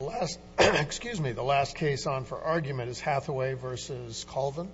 The last case on for argument is Hathaway v. Colvin.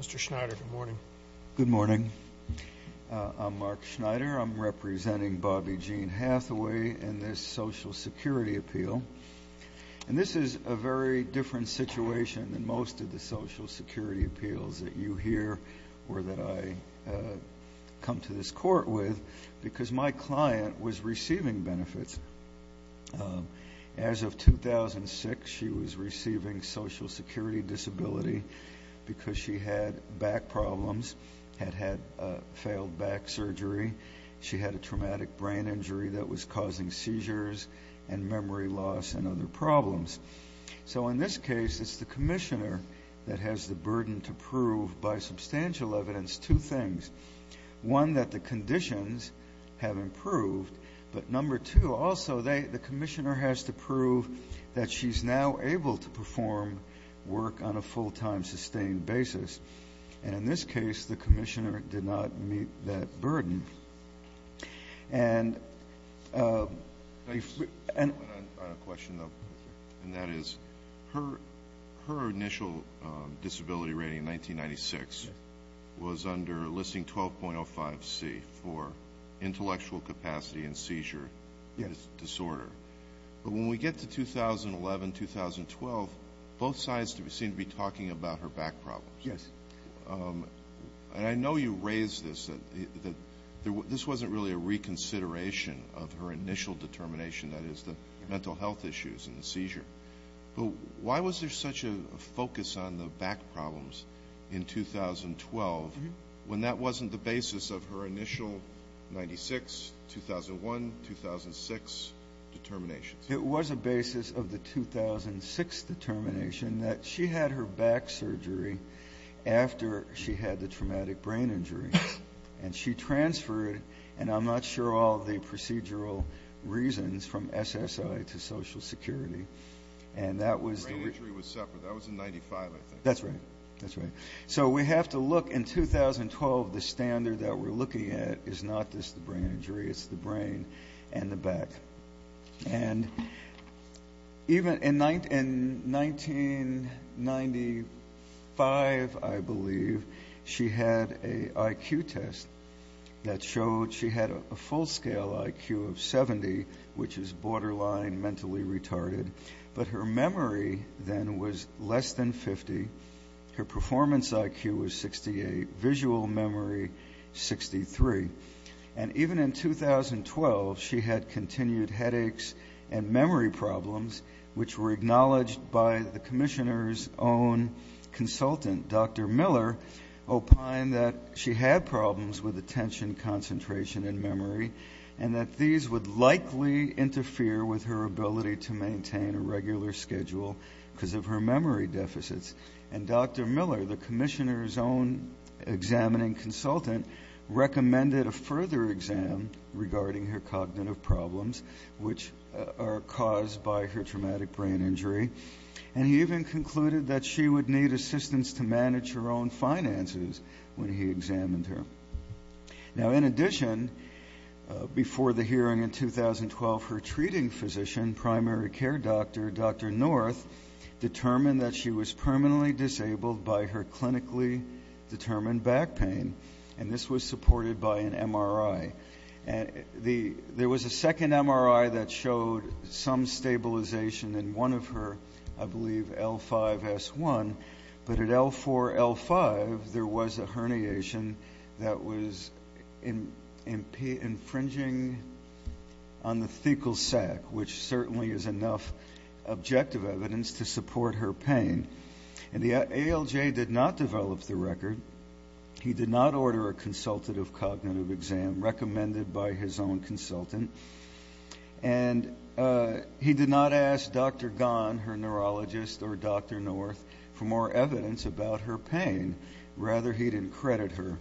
Mr. Schneider, good morning. Good morning. I'm Mark Schneider. I'm representing Bobby Gene Hathaway in this Social Security appeal. And this is a very different situation than most of the Social Security appeals that you hear or that I come to this court with because my client was receiving benefits. As of 2006, she was receiving Social Security disability because she had back problems, had had failed back surgery. She had a traumatic brain injury that was causing seizures and memory loss and other problems. So in this case, it's the commissioner that has the burden to prove by substantial evidence two things. One, that the conditions have improved. But number two, also, the commissioner has to prove that she's now able to perform work on a full-time, sustained basis. And in this case, the commissioner did not meet that burden. And I have a question, though. And that is, her initial disability rating in 1996 was under listing 12.05C for intellectual capacity and seizure disorder. But when we get to 2011, 2012, both sides seem to be talking about her back problems. Yes. And I know you raised this, that this wasn't really a reconsideration of her initial determination, that is, the mental health issues and the seizure. But why was there such a focus on the back problems in 2012 when that wasn't the basis of her initial 96, 2001, 2006 determinations? It was a basis of the 2006 determination that she had her back surgery after she had the traumatic brain injury. And she transferred, and I'm not sure all the procedural reasons, from SSI to Social Security. And that was the region. The brain injury was separate. That was in 95, I think. That's right. That's right. So we have to look. In 2012, the standard that we're looking at is not just the brain injury, it's the brain and the back. And even in 1995, I believe, she had an IQ test that showed she had a full-scale IQ of 70, which is borderline mentally retarded. But her memory then was less than 50. Her performance IQ was 68. Visual memory, 63. And even in 2012, she had continued headaches and memory problems, which were acknowledged by the commissioner's own consultant, Dr. Miller, opine that she had problems with attention concentration and memory and that these would likely interfere with her ability to maintain a regular schedule because of her memory deficits. And Dr. Miller, the commissioner's own examining consultant, recommended a further exam regarding her cognitive problems, which are caused by her traumatic brain injury. And he even concluded that she would need assistance to manage her own finances when he examined her. Now, in addition, before the hearing in 2012, her treating physician, primary care doctor, Dr. North, determined that she was permanently disabled by her clinically determined back pain, and this was supported by an MRI. There was a second MRI that showed some stabilization in one of her, I believe, L5-S1. But at L4-L5, there was a herniation that was infringing on the fecal sac, which certainly is enough objective evidence to support her pain. And the ALJ did not develop the record. He did not order a consultative cognitive exam recommended by his own consultant. And he did not ask Dr. Gon, her neurologist, or Dr. North for more evidence about her pain. Rather, he didn't credit her.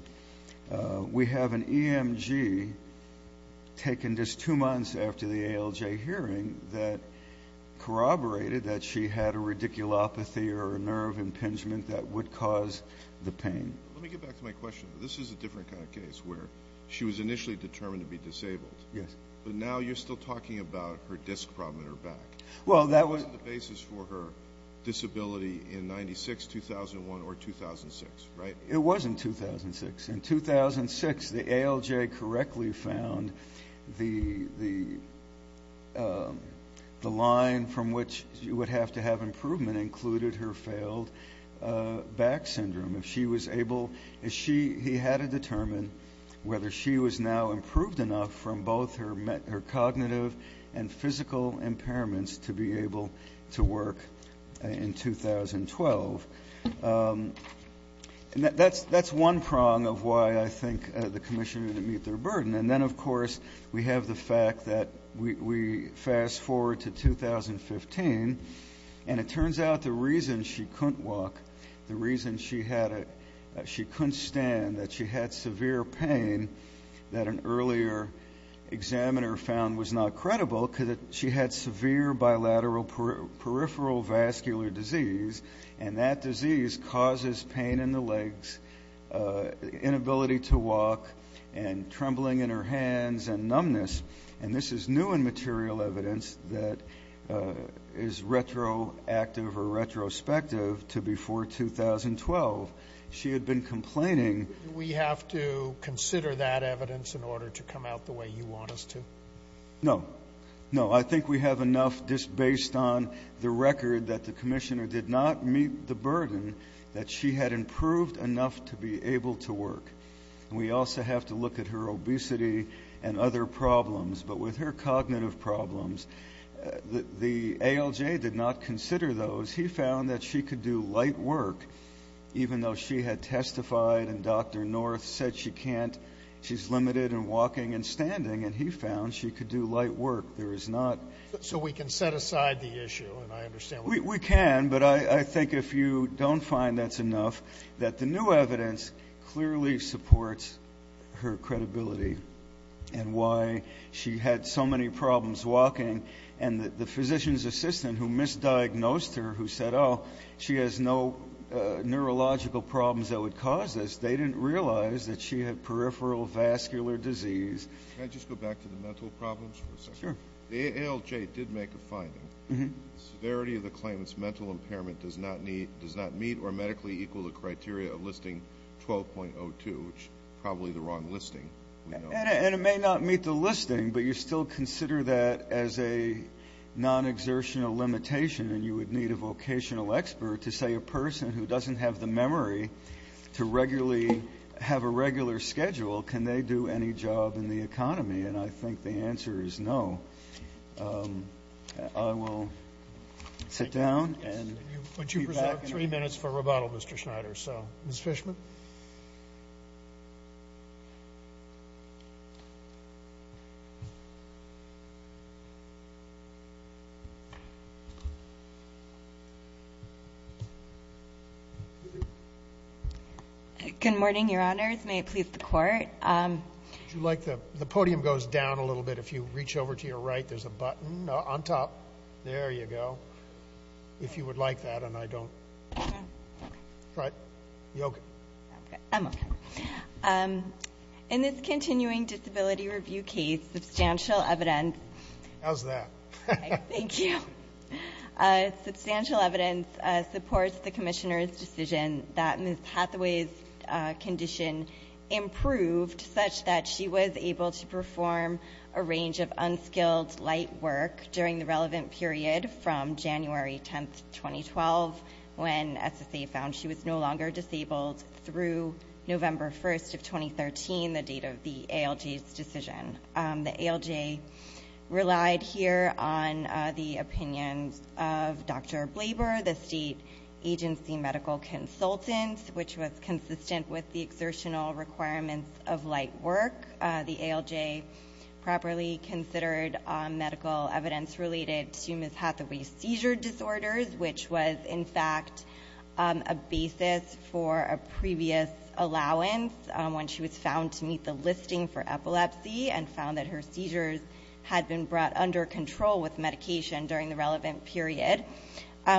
We have an EMG taken just two months after the ALJ hearing that corroborated that she had a radiculopathy or a nerve impingement that would cause the pain. Let me get back to my question. This is a different kind of case where she was initially determined to be disabled. Yes. But now you're still talking about her disc problem in her back. That wasn't the basis for her disability in 1996, 2001, or 2006, right? It was in 2006. In 2006, the ALJ correctly found the line from which you would have to have improvement included her failed back syndrome. He had to determine whether she was now improved enough from both her cognitive and physical impairments to be able to work in 2012. And that's one prong of why I think the commissioner didn't meet their burden. And then, of course, we have the fact that we fast forward to 2015, and it turns out the reason she couldn't walk, the reason she couldn't stand, that she had severe pain that an earlier examiner found was not credible, because she had severe bilateral peripheral vascular disease, and that disease causes pain in the legs, inability to walk, and trembling in her hands and numbness. And this is new in material evidence that is retroactive or retrospective to before 2012. She had been complaining. Do we have to consider that evidence in order to come out the way you want us to? No. No, I think we have enough just based on the record that the commissioner did not meet the burden that she had improved enough to be able to work. And we also have to look at her obesity and other problems. But with her cognitive problems, the ALJ did not consider those. He found that she could do light work even though she had testified and Dr. North said she can't, she's limited in walking and standing, and he found she could do light work. There is not. So we can set aside the issue, and I understand what you're saying. We can, but I think if you don't find that's enough, that the new evidence clearly supports her credibility and why she had so many problems walking. And the physician's assistant who misdiagnosed her, who said, oh, she has no neurological problems that would cause this, they didn't realize that she had peripheral vascular disease. Can I just go back to the mental problems for a second? Sure. The ALJ did make a finding. The severity of the claimant's mental impairment does not meet or medically equal the criteria of listing 12.02, which is probably the wrong listing. And it may not meet the listing, but you still consider that as a non-exertional limitation, and you would need a vocational expert to say a person who doesn't have the memory to regularly have a regular schedule, can they do any job in the economy? And I think the answer is no. I will sit down and be back in a moment. Would you preserve three minutes for rebuttal, Mr. Schneider? Ms. Fishman? Good morning, Your Honors. May it please the Court. The podium goes down a little bit. If you reach over to your right, there's a button on top. There you go. If you would like that, and I don't. Right. You're okay. I'm okay. In this continuing disability review case, substantial evidence. How's that? Thank you. Substantial evidence supports the Commissioner's decision that Ms. Hathaway's condition improved such that she was able to perform a range of unskilled light work during the relevant period from January 10th, 2012, when SSA found she was no longer disabled, through November 1st of 2013, the date of the ALJ's decision. The ALJ relied here on the opinions of Dr. Blaber, the state agency medical consultant, which was consistent with the exertional requirements of light work. The ALJ properly considered medical evidence related to Ms. Hathaway's seizure disorders, which was, in fact, a basis for a previous allowance when she was found to meet the listing for epilepsy and found that her seizures had been brought under control with medication during the relevant period.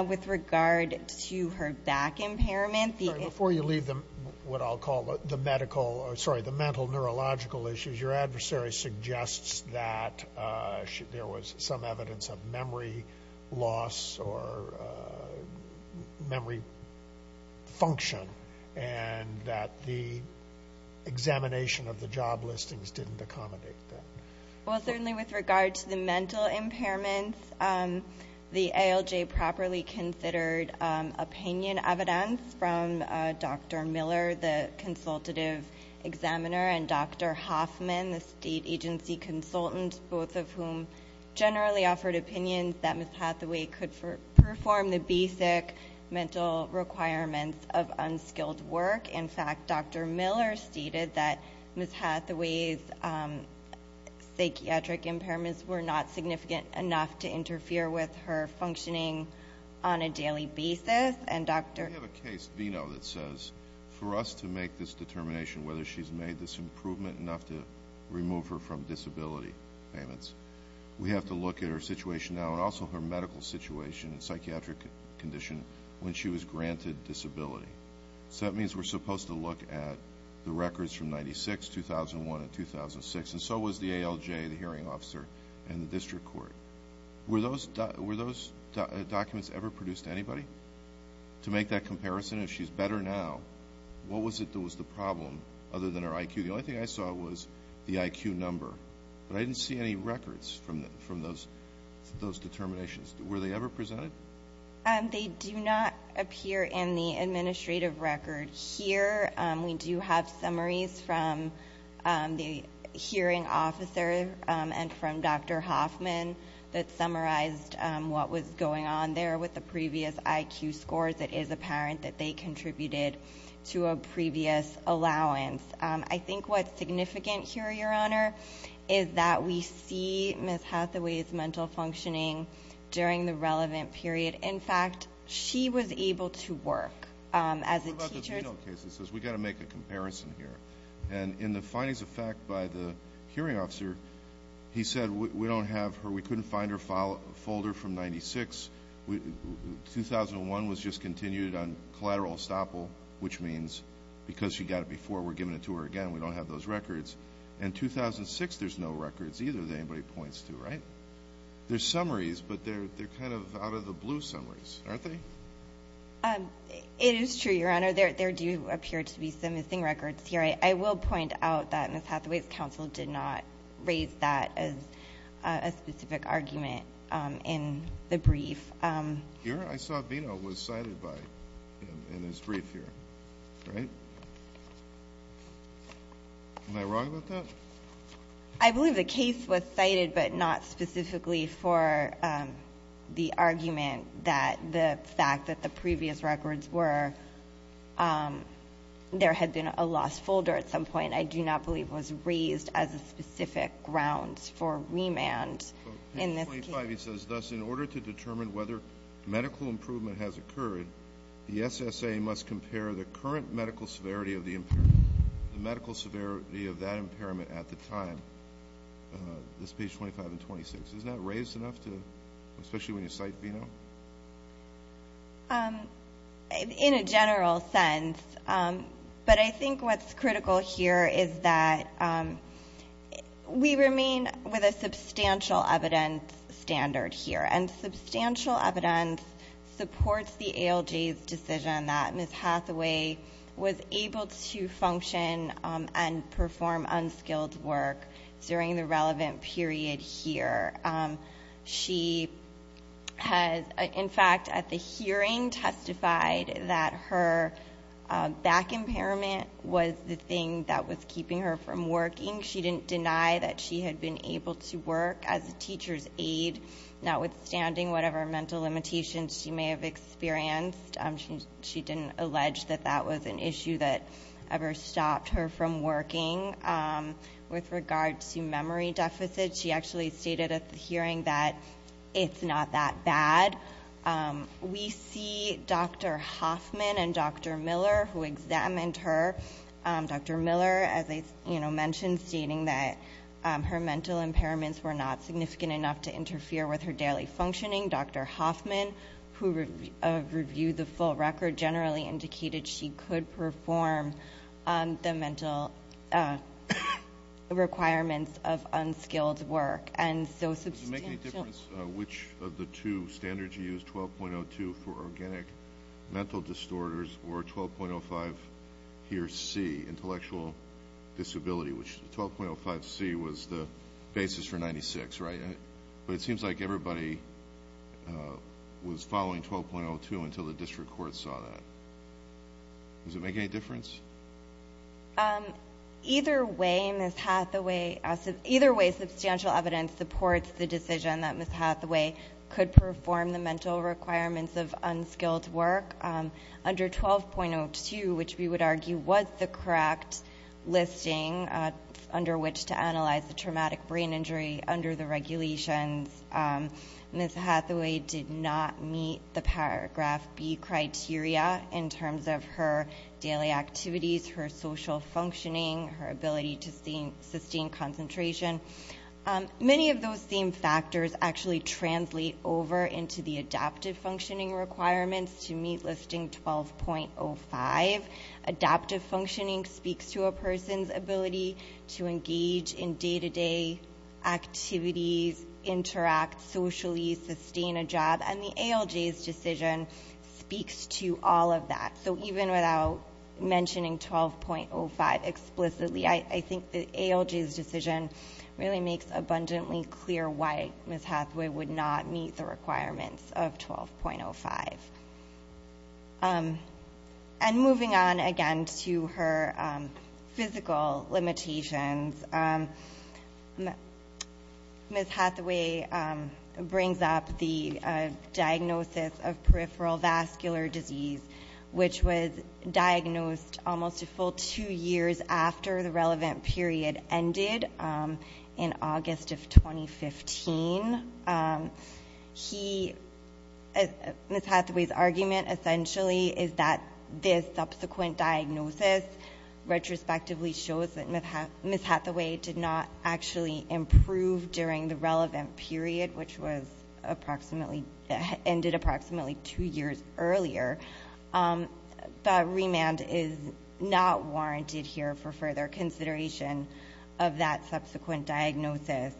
With regard to her back impairment. Before you leave what I'll call the mental neurological issues, your adversary suggests that there was some evidence of memory loss or memory function and that the examination of the job listings didn't accommodate that. Well, certainly with regard to the mental impairments, the ALJ properly considered opinion evidence from Dr. Miller, the consultative examiner, and Dr. Hoffman, the state agency consultant, both of whom generally offered opinions that Ms. Hathaway could perform the basic mental requirements of unskilled work. In fact, Dr. Miller stated that Ms. Hathaway's psychiatric impairments were not significant enough to interfere with her functioning on a daily basis. We have a case, VINO, that says for us to make this determination, whether she's made this improvement enough to remove her from disability payments, we have to look at her situation now and also her medical situation and psychiatric condition when she was granted disability. So that means we're supposed to look at the records from 1996, 2001, and 2006, and so was the ALJ, the hearing officer, and the district court. Were those documents ever produced to anybody to make that comparison? If she's better now, what was the problem other than her IQ? The only thing I saw was the IQ number, but I didn't see any records from those determinations. Were they ever presented? They do not appear in the administrative record here. We do have summaries from the hearing officer and from Dr. Hoffman that summarized what was going on there with the previous IQ scores. It is apparent that they contributed to a previous allowance. I think what's significant here, Your Honor, is that we see Ms. Hathaway's mental functioning during the relevant period. In fact, she was able to work as a teacher. What about the penal cases? We've got to make a comparison here. And in the findings of fact by the hearing officer, he said we couldn't find her folder from 1996. 2001 was just continued on collateral estoppel, which means because she got it before, we're giving it to her again. We don't have those records. In 2006, there's no records either that anybody points to, right? They're summaries, but they're kind of out of the blue summaries, aren't they? It is true, Your Honor. There do appear to be some missing records here. I will point out that Ms. Hathaway's counsel did not raise that as a specific argument in the brief. Here? I saw Vino was cited by him in his brief here, right? Am I wrong about that? I believe the case was cited but not specifically for the argument that the fact that the previous records were there had been a lost folder at some point I do not believe was raised as a specific grounds for remand. In this case. Vino says, thus, in order to determine whether medical improvement has occurred, the SSA must compare the current medical severity of the impairment, the medical severity of that impairment at the time. This is page 25 and 26. Isn't that raised enough, especially when you cite Vino? In a general sense. But I think what's critical here is that we remain with a substantial evidence standard here, and substantial evidence supports the ALJ's decision that Ms. Hathaway was able to function and perform unskilled work during the relevant period here. She has, in fact, at the hearing testified that her back impairment was the thing that was keeping her from working. She didn't deny that she had been able to work as a teacher's aide, notwithstanding whatever mental limitations she may have experienced. She didn't allege that that was an issue that ever stopped her from working. With regard to memory deficit, she actually stated at the hearing that it's not that bad. We see Dr. Hoffman and Dr. Miller, who examined her. Dr. Miller, as I mentioned, stating that her mental impairments were not significant enough to interfere with her daily functioning. Dr. Hoffman, who reviewed the full record, generally indicated she could perform the mental requirements of unskilled work. Does it make any difference which of the two standards you used, 12.02 for organic mental disorders or 12.05 here C, intellectual disability, which 12.05 C was the basis for 96, right? But it seems like everybody was following 12.02 until the district court saw that. Does it make any difference? Either way, substantial evidence supports the decision that Ms. Hathaway could perform the mental requirements of unskilled work. Under 12.02, which we would argue was the correct listing under which to analyze the traumatic brain injury under the regulations, Ms. Hathaway did not meet the paragraph B criteria in terms of her daily activities, her social functioning, her ability to sustain concentration. Many of those same factors actually translate over into the adaptive functioning requirements to meet listing 12.05. Adaptive functioning speaks to a person's ability to engage in day-to-day activities, interact socially, sustain a job, and the ALJ's decision speaks to all of that. So even without mentioning 12.05 explicitly, I think the ALJ's decision really makes abundantly clear why Ms. Hathaway would not meet the requirements of 12.05. And moving on again to her physical limitations, Ms. Hathaway brings up the diagnosis of peripheral vascular disease, which was diagnosed almost a full two years after the relevant period ended in August of 2015. Ms. Hathaway's argument essentially is that this subsequent diagnosis retrospectively shows that Ms. Hathaway did not actually improve during the relevant period, which ended approximately two years earlier. The remand is not warranted here for further consideration of that subsequent diagnosis.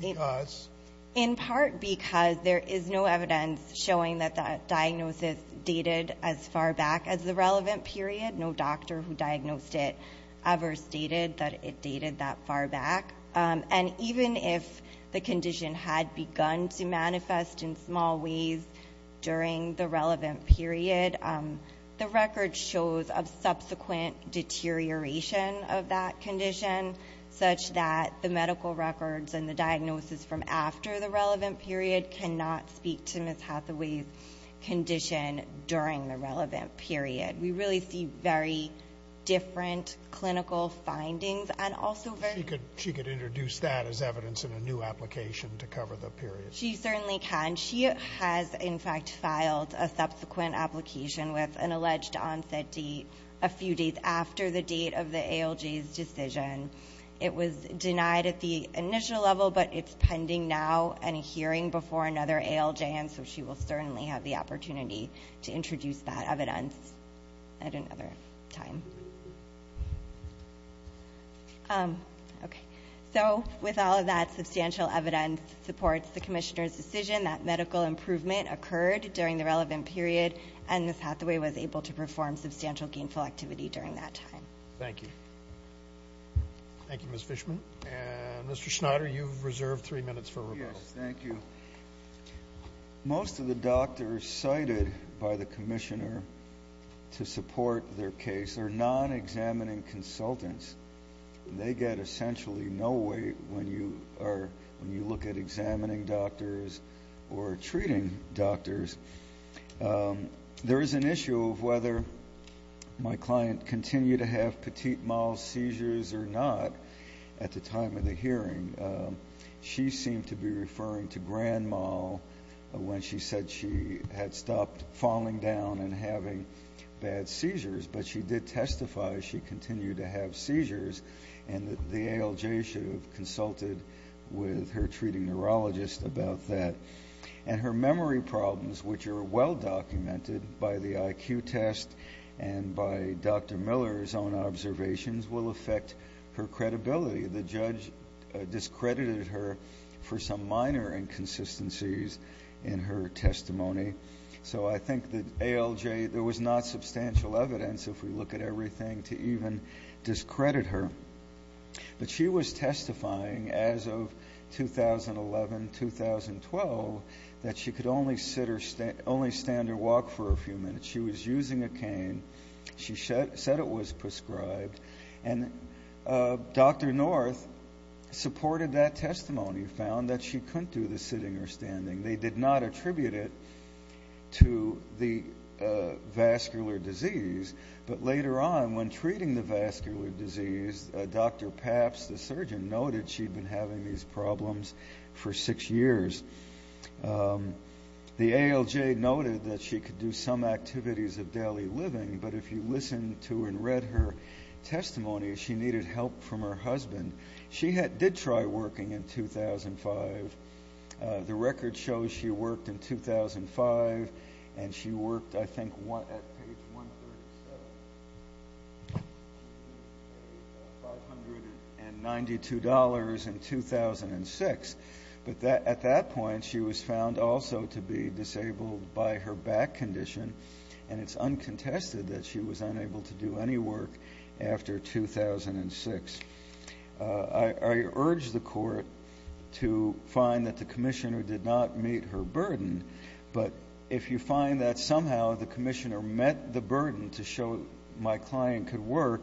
Because? In part because there is no evidence showing that that diagnosis dated as far back as the relevant period. No doctor who diagnosed it ever stated that it dated that far back. And even if the condition had begun to manifest in small ways during the relevant period, the record shows a subsequent deterioration of that condition, such that the medical records and the diagnosis from after the relevant period cannot speak to Ms. Hathaway's condition during the relevant period. We really see very different clinical findings. She could introduce that as evidence in a new application to cover the period. She certainly can. She has, in fact, filed a subsequent application with an alleged onset date a few days after the date of the ALJ's decision. It was denied at the initial level, but it's pending now in a hearing before another ALJ, and so she will certainly have the opportunity to introduce that evidence at another time. Okay. So with all of that substantial evidence supports the commissioner's decision that medical improvement occurred during the relevant period, and Ms. Hathaway was able to perform substantial gainful activity during that time. Thank you. Thank you, Ms. Fishman. And Mr. Schneider, you've reserved three minutes for rebuttal. Yes, thank you. Most of the doctors cited by the commissioner to support their case are non-examining consultants. They get essentially no weight when you look at examining doctors or treating doctors. There is an issue of whether my client continued to have petit mal seizures or not at the time of the hearing. She seemed to be referring to grand mal when she said she had stopped falling down and having bad seizures, but she did testify she continued to have seizures, and the ALJ should have consulted with her treating neurologist about that. And her memory problems, which are well documented by the IQ test and by Dr. Miller's own observations, will affect her credibility. The judge discredited her for some minor inconsistencies in her testimony. So I think the ALJ, there was not substantial evidence, if we look at everything, to even discredit her. But she was testifying as of 2011-2012 that she could only stand or walk for a few minutes. She was using a cane. She said it was prescribed. And Dr. North supported that testimony, found that she couldn't do the sitting or standing. They did not attribute it to the vascular disease. But later on, when treating the vascular disease, Dr. Papps, the surgeon, noted she'd been having these problems for six years. The ALJ noted that she could do some activities of daily living, but if you listened to and read her testimony, she needed help from her husband. She did try working in 2005. The record shows she worked in 2005, and she worked, I think, at page 137. $592 in 2006. But at that point, she was found also to be disabled by her back condition, and it's uncontested that she was unable to do any work after 2006. I urge the Court to find that the commissioner did not meet her burden, but if you find that somehow the commissioner met the burden to show my client could work,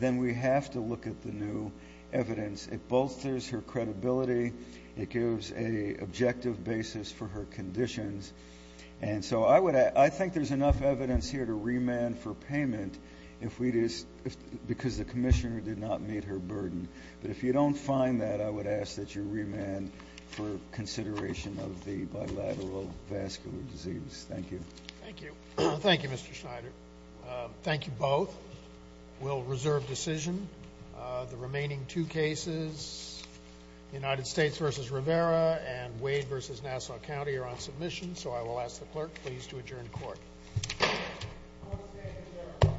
then we have to look at the new evidence. It bolsters her credibility. It gives an objective basis for her conditions. And so I think there's enough evidence here to remand for payment because the commissioner did not meet her burden. But if you don't find that, I would ask that you remand for consideration of the bilateral vascular disease. Thank you. Thank you. Thank you, Mr. Schneider. Thank you both. We'll reserve decision. The remaining two cases, United States v. Rivera and Wade v. Nassau County, are on submission. So I will ask the clerk please to adjourn court.